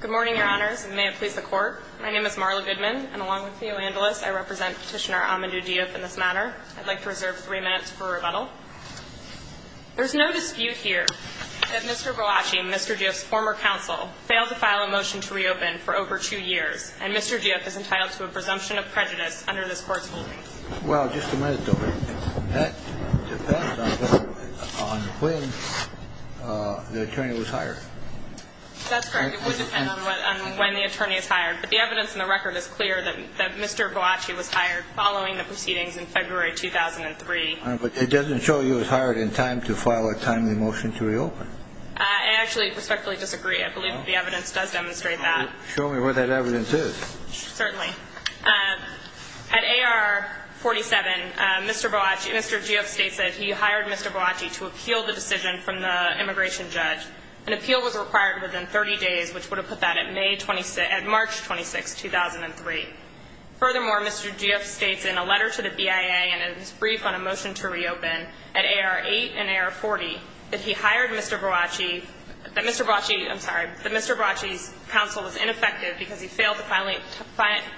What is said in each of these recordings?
Good morning, Your Honors, and may it please the Court. My name is Marla Goodman, and along with Theo Andelis, I represent Petitioner Amadou Diouf in this matter. I'd like to reserve three minutes for rebuttal. There is no dispute here that Mr. Boulachi, Mr. Diouf's former counsel, failed to file a motion to reopen for over two years, and Mr. Diouf is entitled to a presumption of prejudice under this Court's holdings. Well, just a minute, though. That depends on when the attorney was hired. That's correct. It would depend on when the attorney was hired. But the evidence in the record is clear that Mr. Boulachi was hired following the proceedings in February 2003. But it doesn't show he was hired in time to file a timely motion to reopen. I actually respectfully disagree. I believe the evidence does demonstrate that. Show me where that evidence is. Certainly. At A.R. 47, Mr. Diouf states that he hired Mr. Boulachi to appeal the decision from the immigration judge. An appeal was required within 30 days, which would have put that at March 26, 2003. Furthermore, Mr. Diouf states in a letter to the BIA and in his brief on a motion to reopen at A.R. 8 and A.R. 40, that Mr. Boulachi's counsel was ineffective because he failed to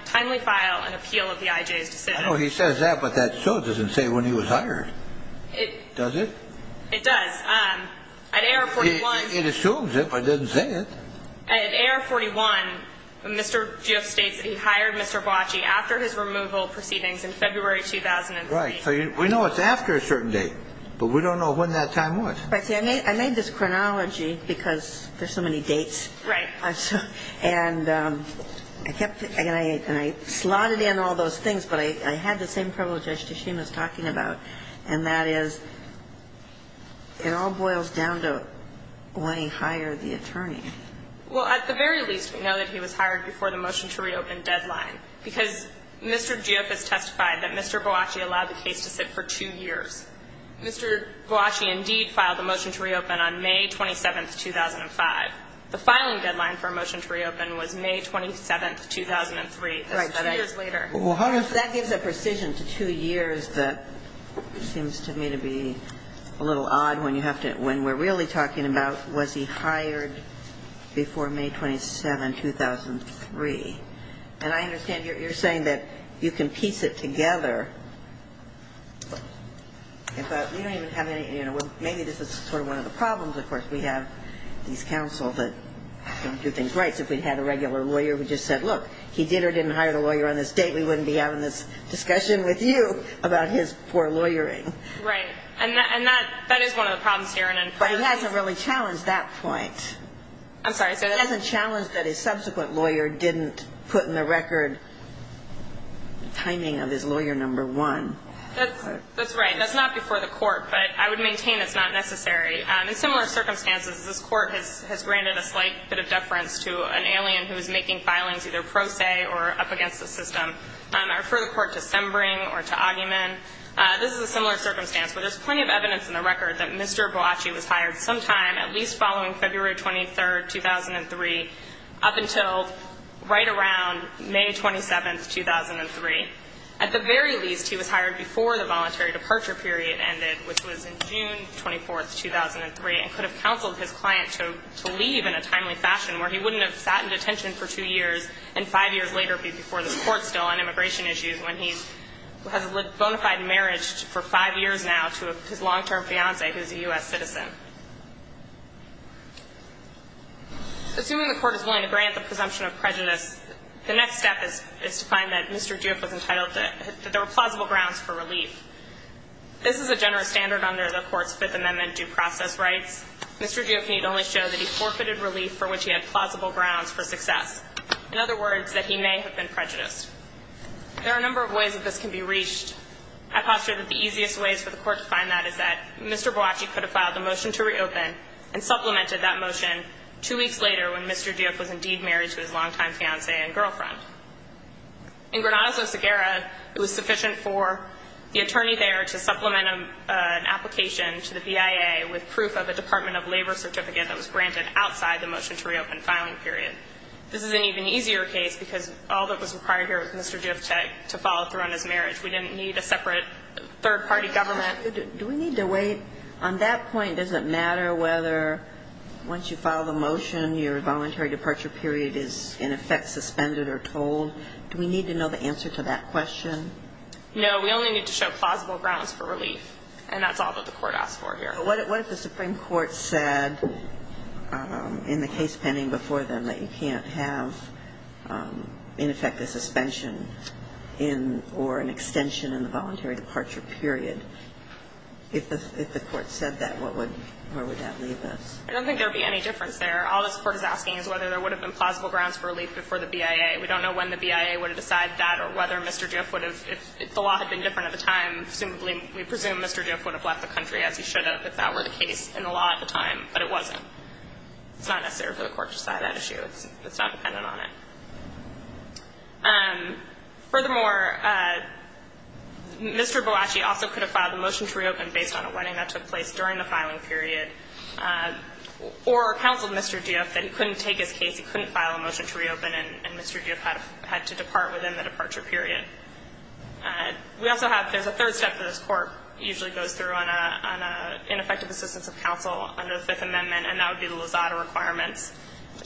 timely file an appeal of the I.J.'s decision. I know he says that, but that still doesn't say when he was hired, does it? It does. At A.R. 41. It assumes it, but it doesn't say it. At A.R. 41, Mr. Diouf states that he hired Mr. Boulachi after his removal proceedings in February 2003. Right. So we know it's after a certain date, but we don't know when that time was. I made this chronology because there's so many dates. Right. And I kept thinking, and I slotted in all those things, but I had the same privilege as Tashima was talking about, and that is it all boils down to when he hired the attorney. Well, at the very least, we know that he was hired before the motion to reopen deadline, because Mr. Diouf has testified that Mr. Boulachi allowed the case to sit for two years. Mr. Boulachi indeed filed the motion to reopen on May 27, 2005. The filing deadline for a motion to reopen was May 27, 2003. Right. That's two years later. That gives a precision to two years that seems to me to be a little odd when you have to – when we're really talking about was he hired before May 27, 2003. And I understand you're saying that you can piece it together. You don't even have any – maybe this is sort of one of the problems, of course. We have these counsels that don't do things right. If we had a regular lawyer who just said, look, he did or didn't hire the lawyer on this date, we wouldn't be having this discussion with you about his poor lawyering. Right. And that is one of the problems here. But it hasn't really challenged that point. I'm sorry. It hasn't challenged that his subsequent lawyer didn't put in the record timing of his lawyer number one. That's right. That's not before the court, but I would maintain it's not necessary. In similar circumstances, this court has granted a slight bit of deference to an alien who is making filings either pro se or up against the system. I refer the court to Sembring or to Oggeman. This is a similar circumstance, but there's plenty of evidence in the record that Mr. Boakye was hired sometime, at least following February 23, 2003, up until right around May 27, 2003. At the very least, he was hired before the voluntary departure period ended, which was in June 24, 2003, and could have counseled his client to leave in a timely fashion, where he wouldn't have sat in detention for two years and five years later be before this court still on immigration issues when he has lived bona fide marriage for five years now to his long-term fiancee, who is a U.S. citizen. Assuming the court is willing to grant the presumption of prejudice, the next step is to find that Mr. Duke was entitled to – that there were plausible grounds for relief. This is a generous standard under the court's Fifth Amendment due process rights. Mr. Duke need only show that he forfeited relief for which he had plausible grounds for success. In other words, that he may have been prejudiced. There are a number of ways that this can be reached. I posture that the easiest ways for the court to find that is that Mr. Boakye could have filed a motion to reopen and supplemented that motion two weeks later when Mr. Duke was indeed married to his long-time fiancee and girlfriend. In Granada, Zosaguerra, it was sufficient for the attorney there to supplement an application to the BIA with proof of a Department of Labor certificate that was granted outside the motion to reopen filing period. This is an even easier case because all that was required here was Mr. Duke to follow through on his marriage. We didn't need a separate third-party government. Do we need to wait? On that point, does it matter whether once you file the motion, your voluntary departure period is, in effect, suspended or told? Do we need to know the answer to that question? No, we only need to show plausible grounds for relief, and that's all that the court asked for here. What if the Supreme Court said in the case pending before them that you can't have, in effect, a suspension or an extension in the voluntary departure period? If the court said that, where would that leave us? I don't think there would be any difference there. All this court is asking is whether there would have been plausible grounds for relief before the BIA. We don't know when the BIA would have decided that or whether Mr. Duke would have. If the law had been different at the time, presumably, we presume Mr. Duke would have left the country, as he should have, if that were the case in the law at the time, but it wasn't. It's not necessary for the court to decide that issue. It's not dependent on it. Furthermore, Mr. Bellacci also could have filed a motion to reopen based on a wedding that took place during the filing period, or counseled Mr. Duke that he couldn't take his case, he couldn't file a motion to reopen, and Mr. Duke had to depart within the departure period. We also have – there's a third step that this court usually goes through on an ineffective assistance of counsel under the Fifth Amendment, and that would be the Lozada requirements.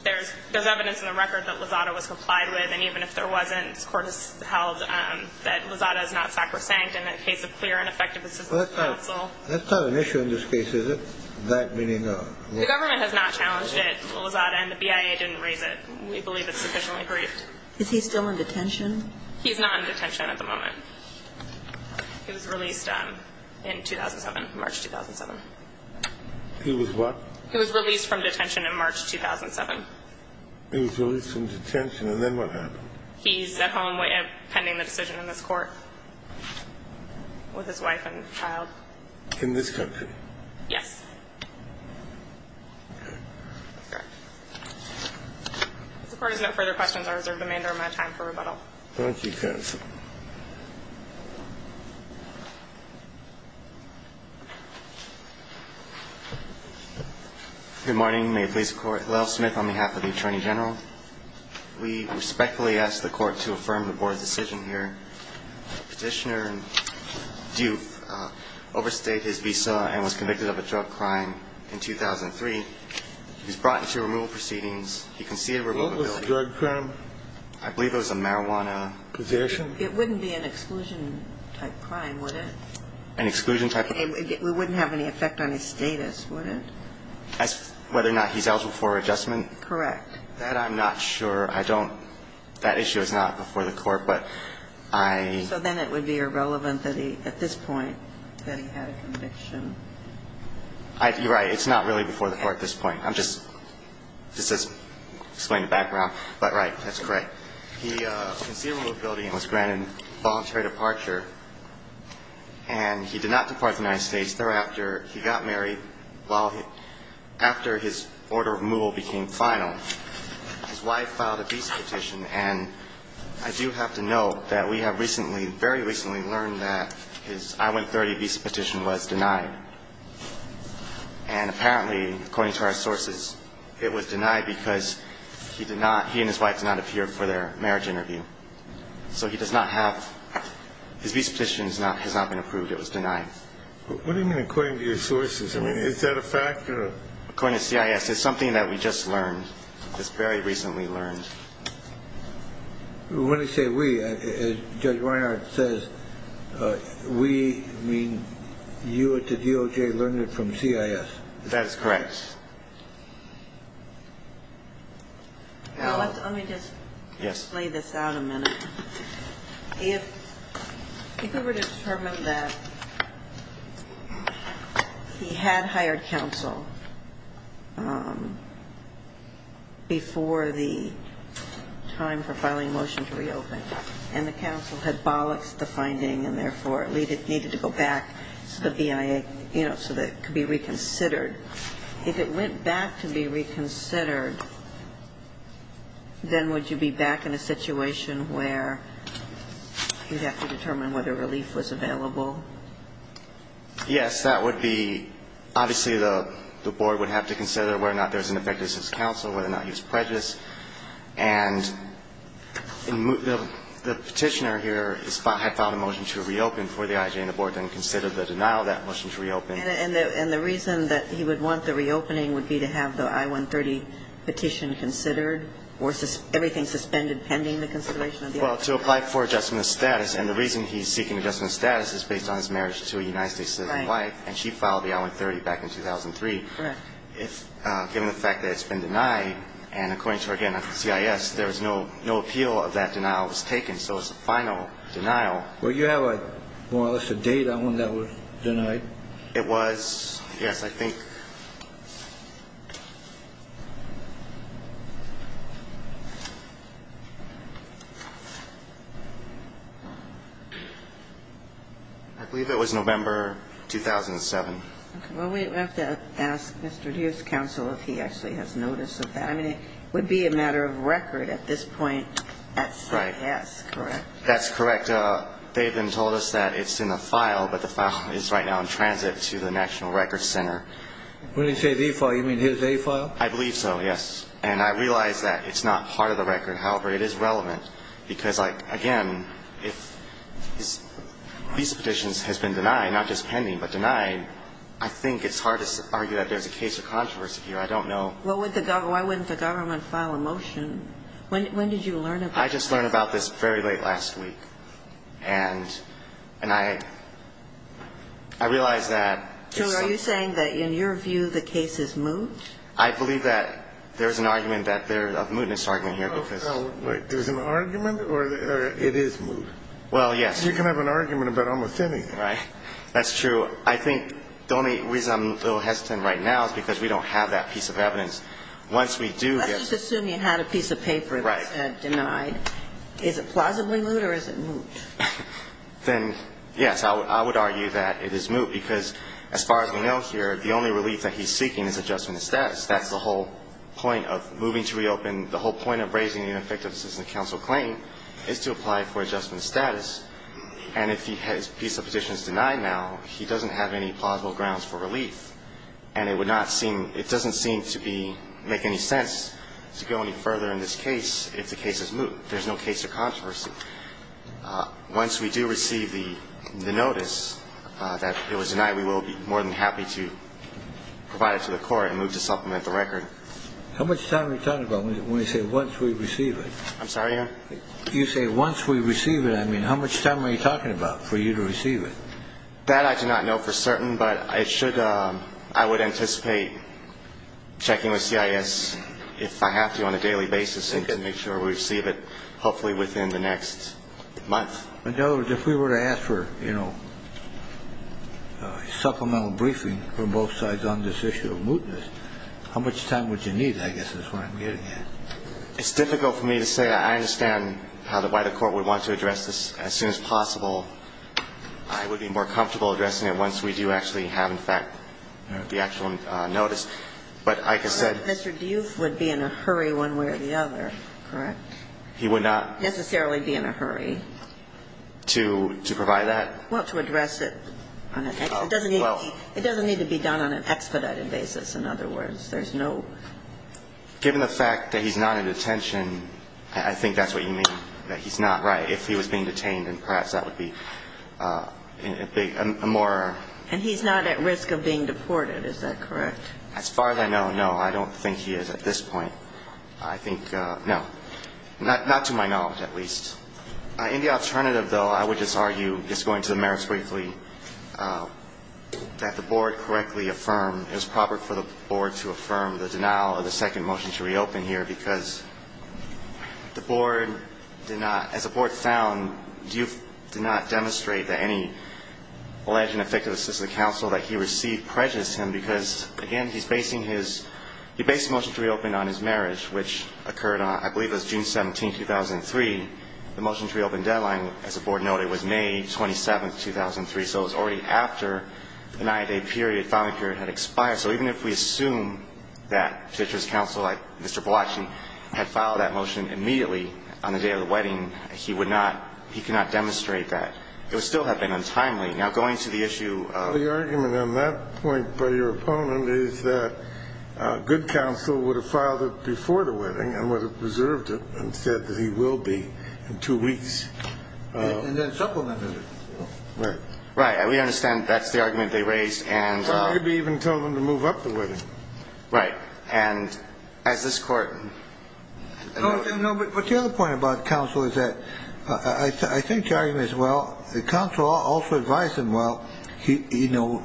There's evidence in the record that Lozada was complied with, and even if there wasn't, this court has held that Lozada is not sacrosanct in the case of clear and effective assistance of counsel. That's not an issue in this case, is it? The government has not challenged it, Lozada, and the BIA didn't raise it. We believe it's sufficiently briefed. Is he still in detention? He's not in detention at the moment. He was released in 2007, March 2007. He was what? He was released from detention in March 2007. He was released from detention, and then what happened? He's at home pending the decision in this court with his wife and child. In this country? Yes. Okay. That's correct. If the Court has no further questions, I reserve the remainder of my time for rebuttal. Thank you, counsel. Thank you. Good morning. May it please the Court. Lyle Smith on behalf of the Attorney General. We respectfully ask the Court to affirm the Board's decision here. Petitioner Duke overstayed his visa and was convicted of a drug crime in 2003. He's brought into removal proceedings. He conceded removability. What was the drug crime? I believe it was a marijuana possession. It wouldn't be an exclusion-type crime, would it? An exclusion-type? It wouldn't have any effect on his status, would it? As to whether or not he's eligible for adjustment? Correct. That I'm not sure. I don't – that issue is not before the Court, but I – So then it would be irrelevant that he – at this point, that he had a conviction. You're right. It's not really before the Court at this point. I'm just – just to explain the background. But, right, that's correct. He conceded removability and was granted voluntary departure, and he did not depart the United States thereafter. He got married while – after his order of removal became final. His wife filed a visa petition, and I do have to note that we have recently – very recently learned that his I-130 visa petition was denied. And apparently, according to our sources, it was denied because he did not – he and his wife did not appear for their marriage interview. So he does not have – his visa petition has not been approved. It was denied. What do you mean, according to your sources? I mean, is that a fact or a – According to CIS, it's something that we just learned, just very recently learned. When I say we, Judge Reinhardt says we mean you at the DOJ learned it from CIS. That is correct. Let me just lay this out a minute. If we were to determine that he had hired counsel before the time for filing a motion to reopen and the counsel had bollocked the finding and, therefore, it needed to go back to the BIA so that it could be reconsidered, if it went back to be reconsidered, then would you be back in a situation where you'd have to determine whether relief was available? Yes, that would be – obviously, the board would have to consider whether or not there's an effectiveness of counsel, whether or not he was prejudiced. And the petitioner here had filed a motion to reopen for the IJA, and the board then considered the denial of that motion to reopen. And the reason that he would want the reopening would be to have the I-130 petition considered or everything suspended pending the consideration of the I-130? Well, to apply for adjustment of status. And the reason he's seeking adjustment of status is based on his marriage to a United States citizen wife. Right. And she filed the I-130 back in 2003. Correct. Given the fact that it's been denied, and according to, again, CIS, there was no – no appeal of that denial was taken. So it's a final denial. Well, you have more or less a date on when that was denied. It was – yes, I think – I believe it was November 2007. Okay. Well, we have to ask Mr. Hughes' counsel if he actually has notice of that. I mean, it would be a matter of record at this point at CIS, correct? Right. That's correct. I think they've been told us that it's in the file, but the file is right now in transit to the National Records Center. When they say the file, you mean his A file? I believe so, yes. And I realize that it's not part of the record. However, it is relevant because, like, again, if these petitions has been denied, not just pending but denied, I think it's hard to argue that there's a case of controversy here. I don't know. Well, why wouldn't the government file a motion? When did you learn about this? I just learned about this very late last week. And I realize that it's – So are you saying that in your view the case is moot? I believe that there's an argument that there's a mootness argument here because – There's an argument or it is moot? Well, yes. You can have an argument about almost anything. Right. That's true. I think the only reason I'm a little hesitant right now is because we don't have that piece of evidence. Once we do – Let's just assume you had a piece of paper that said denied. Is it plausibly moot or is it moot? Then, yes, I would argue that it is moot because, as far as we know here, the only relief that he's seeking is adjustment of status. That's the whole point of moving to reopen. The whole point of raising the ineffectiveness of the counsel claim is to apply for adjustment of status. And if his piece of petition is denied now, he doesn't have any plausible grounds for relief. And it would not seem – to go any further in this case if the case is moot. There's no case of controversy. Once we do receive the notice that it was denied, we will be more than happy to provide it to the court and move to supplement the record. How much time are you talking about when you say once we receive it? I'm sorry, Your Honor? You say once we receive it. I mean, how much time are you talking about for you to receive it? That I do not know for certain, but I should – I would anticipate checking with CIS if I have to on a daily basis and to make sure we receive it hopefully within the next month. In other words, if we were to ask for, you know, supplemental briefing from both sides on this issue of mootness, how much time would you need, I guess is what I'm getting at. It's difficult for me to say. I understand why the court would want to address this as soon as possible. I would be more comfortable addressing it once we do actually have, in fact, the actual notice. But like I said – Mr. Duff would be in a hurry one way or the other, correct? He would not – Necessarily be in a hurry. To provide that? Well, to address it on an expedited – it doesn't need to be done on an expedited basis, in other words. There's no – Given the fact that he's not in detention, I think that's what you mean, that he's not, right? If he was being detained, then perhaps that would be a more – And he's not at risk of being deported, is that correct? As far as I know, no. I don't think he is at this point. I think – no. Not to my knowledge, at least. In the alternative, though, I would just argue, just going to the merits briefly, that the board correctly affirmed it was proper for the board to affirm the denial of the second motion to reopen here because the board did not – as the board found, Duff did not demonstrate that any alleged and effective assistance to the counsel that he received prejudiced him because, again, he's basing his – he based the motion to reopen on his marriage, which occurred on – I believe it was June 17th, 2003. The motion to reopen deadline, as the board noted, was May 27th, 2003. So it was already after the nine-day period, filing period, had expired. All right. So even if we assume that a judge's counsel, like Mr. Polacci, had filed that motion immediately on the day of the wedding, he would not – he could not demonstrate that. It would still have been untimely. Now, going to the issue of – The argument on that point by your opponent is that a good counsel would have filed it before the wedding and would have reserved it and said that he will be in two weeks. And then supplemented it. Right. Right. And we understand that's the argument they raised, and – Or maybe even tell them to move up the wedding. Right. And as this Court – No, but the other point about counsel is that I think the argument is, well, the counsel also advised him, well, you know,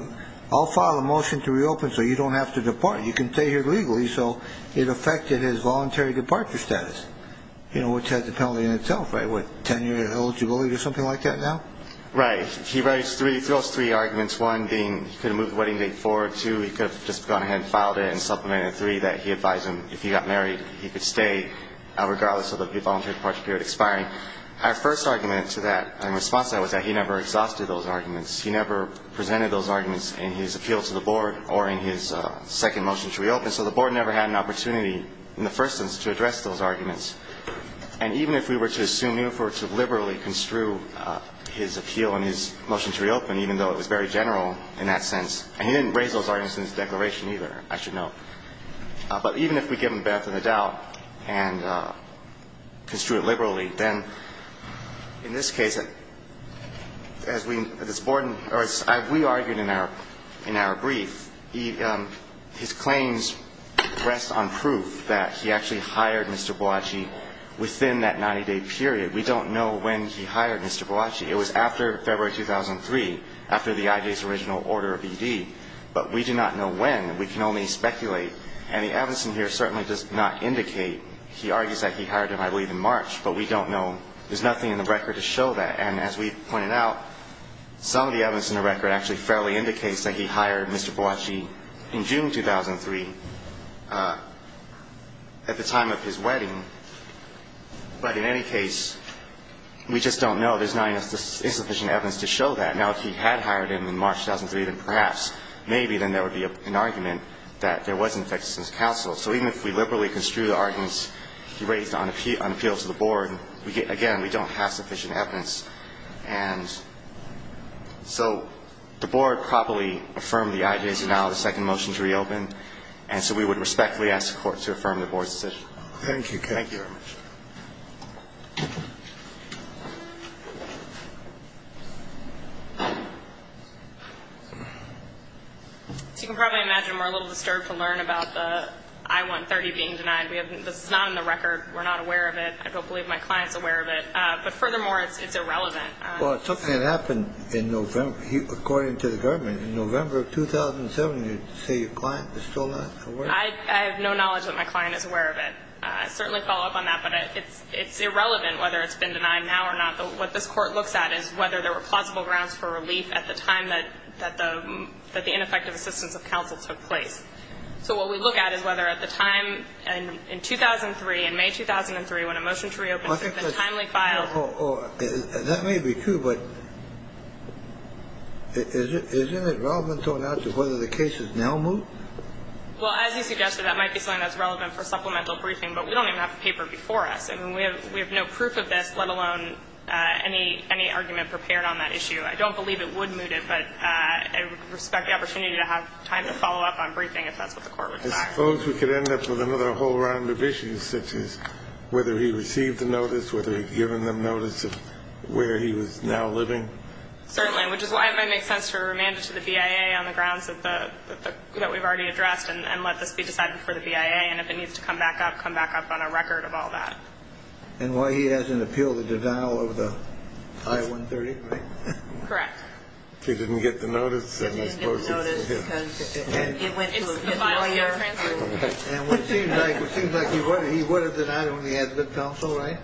I'll file a motion to reopen so you don't have to depart. You can stay here legally. So it affected his voluntary departure status, you know, which has a penalty in itself, right? What, 10-year eligibility or something like that now? Right. He raised three – he throws three arguments, one being he could have moved the wedding date forward, two he could have just gone ahead and filed it and supplemented it, and three that he advised him if he got married he could stay regardless of the voluntary departure period expiring. Our first argument to that and response to that was that he never exhausted those arguments. He never presented those arguments in his appeal to the Board or in his second motion to reopen. So the Board never had an opportunity in the first instance to address those arguments. And even if we were to assume Newford to liberally construe his appeal and his motion to reopen, even though it was very general in that sense, and he didn't raise those arguments in his declaration either, I should note, but even if we give him benefit of the doubt and construe it liberally, then in this case, as we – as this Board – or as we argued in our – in our brief, his claims rest on proof that he actually hired Mr. Bellacci within that 90-day period. We don't know when he hired Mr. Bellacci. It was after February 2003, after the IJ's original order of ED. But we do not know when. We can only speculate. And the evidence in here certainly does not indicate – he argues that he hired him, I believe, in March. But we don't know – there's nothing in the record to show that. And as we pointed out, some of the evidence in the record actually fairly indicates that he hired Mr. Bellacci in June 2003 at the time of his wedding. But in any case, we just don't know. There's not enough insufficient evidence to show that. Now, if he had hired him in March 2003, then perhaps, maybe, then there would be an argument that there was an infectiousness counsel. So even if we liberally construe the arguments he raised on appeal to the Board, again, we don't have sufficient evidence. And so the Board probably affirmed the IJ's denial of the second motion to reopen. And so we would respectfully ask the Court to affirm the Board's decision. Thank you. Thank you very much. As you can probably imagine, we're a little disturbed to learn about the I-130 being denied. This is not in the record. We're not aware of it. I don't believe my client is aware of it. But furthermore, it's irrelevant. Well, it's something that happened in November, according to the government. In November of 2007, you say your client is still not aware of it? I have no knowledge that my client is aware of it. I certainly follow up on that. But it's irrelevant whether it's been denied now or not. What this Court looks at is whether there were plausible grounds for relief at the time that the ineffective assistance of counsel took place. So what we look at is whether at the time in 2003, in May 2003, when a motion to reopen has been timely filed. That may be true. But isn't it relevant going out to whether the case is now moot? Well, as you suggested, that might be something that's relevant for supplemental briefing. But we don't even have the paper before us. I mean, we have no proof of this, let alone any argument prepared on that issue. I don't believe it would moot it, but I would respect the opportunity to have time to follow up on briefing if that's what the Court would desire. I suppose we could end up with another whole round of issues, such as whether he received the notice, whether he had given them notice of where he was now living. Certainly, which is why it might make sense to remand it to the BIA on the grounds that we've already addressed and let this be decided before the BIA. And if it needs to come back up, come back up on a record of all that. And why he hasn't appealed the denial of the I-130, right? Correct. He didn't get the notice? He didn't get the notice because it went to his lawyer. And it seems like he would have denied it when he had good counsel, right?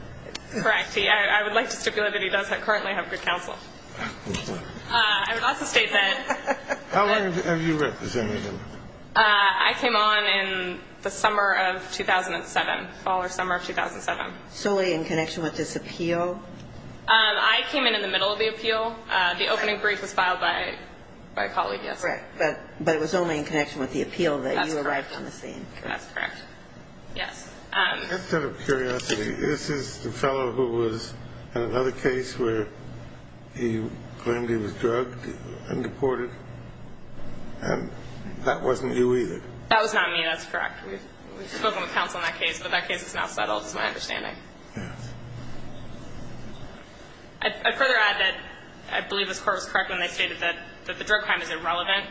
Correct. I would like to stipulate that he does currently have good counsel. I would also state that— How long have you represented him? I came on in the summer of 2007, fall or summer of 2007. Solely in connection with this appeal? I came in in the middle of the appeal. The opening brief was filed by a colleague, yes. Correct. But it was only in connection with the appeal that you arrived on the scene. That's correct. Yes. Just out of curiosity, this is the fellow who was in another case where he claimed he was drugged and deported? And that wasn't you either? That was not me. That's correct. We've spoken with counsel on that case, but that case is now settled, is my understanding. Yes. I'd further add that I believe this Court was correct when they stated that the drug crime is irrelevant.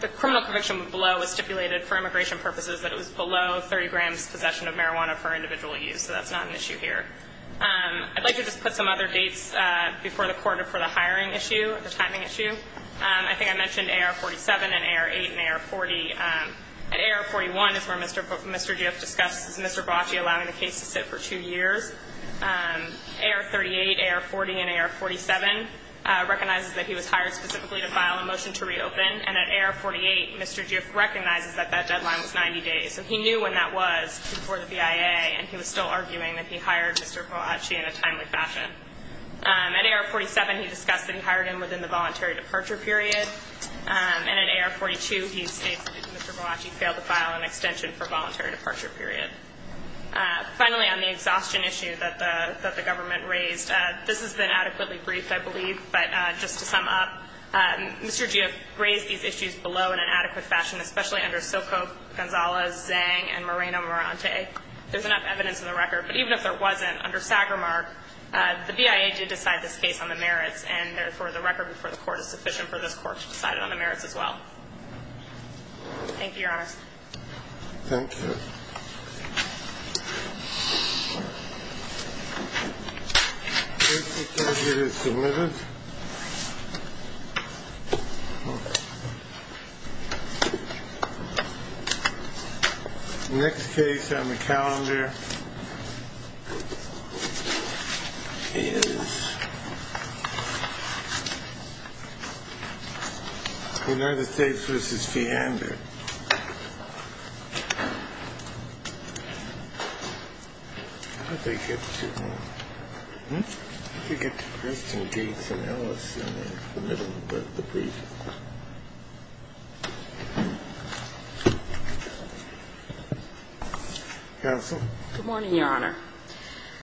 The criminal conviction below was stipulated for immigration purposes that it was below 30 grams possession of marijuana for individual use, so that's not an issue here. I'd like to just put some other dates before the Court for the hiring issue, the timing issue. I think I mentioned AR-47 and AR-8 and AR-40. At AR-41 is where Mr. Giff discusses Mr. Bocci allowing the case to sit for two years. AR-38, AR-40, and AR-47 recognizes that he was hired specifically to file a motion to reopen. And at AR-48, Mr. Giff recognizes that that deadline was 90 days. And he knew when that was before the BIA, and he was still arguing that he hired Mr. Bocci in a timely fashion. At AR-47, he discussed that he hired him within the voluntary departure period. And at AR-42, he stated that Mr. Bocci failed to file an extension for voluntary departure period. Finally, on the exhaustion issue that the government raised, this has been adequately briefed, I believe. But just to sum up, Mr. Giff raised these issues below in an adequate fashion, especially under Soko, Gonzales, Zang, and Moreno-Mirante. There's enough evidence in the record. But even if there wasn't, under Sagermark, the BIA did decide this case on the merits, and therefore the record before the Court is sufficient for this Court to decide it on the merits as well. Thank you, Your Honor. Thank you. The case is submitted. The next case on the calendar is United States v. Feehander. How did they get to Kristen Gates and Alice in the middle of the brief? Counsel.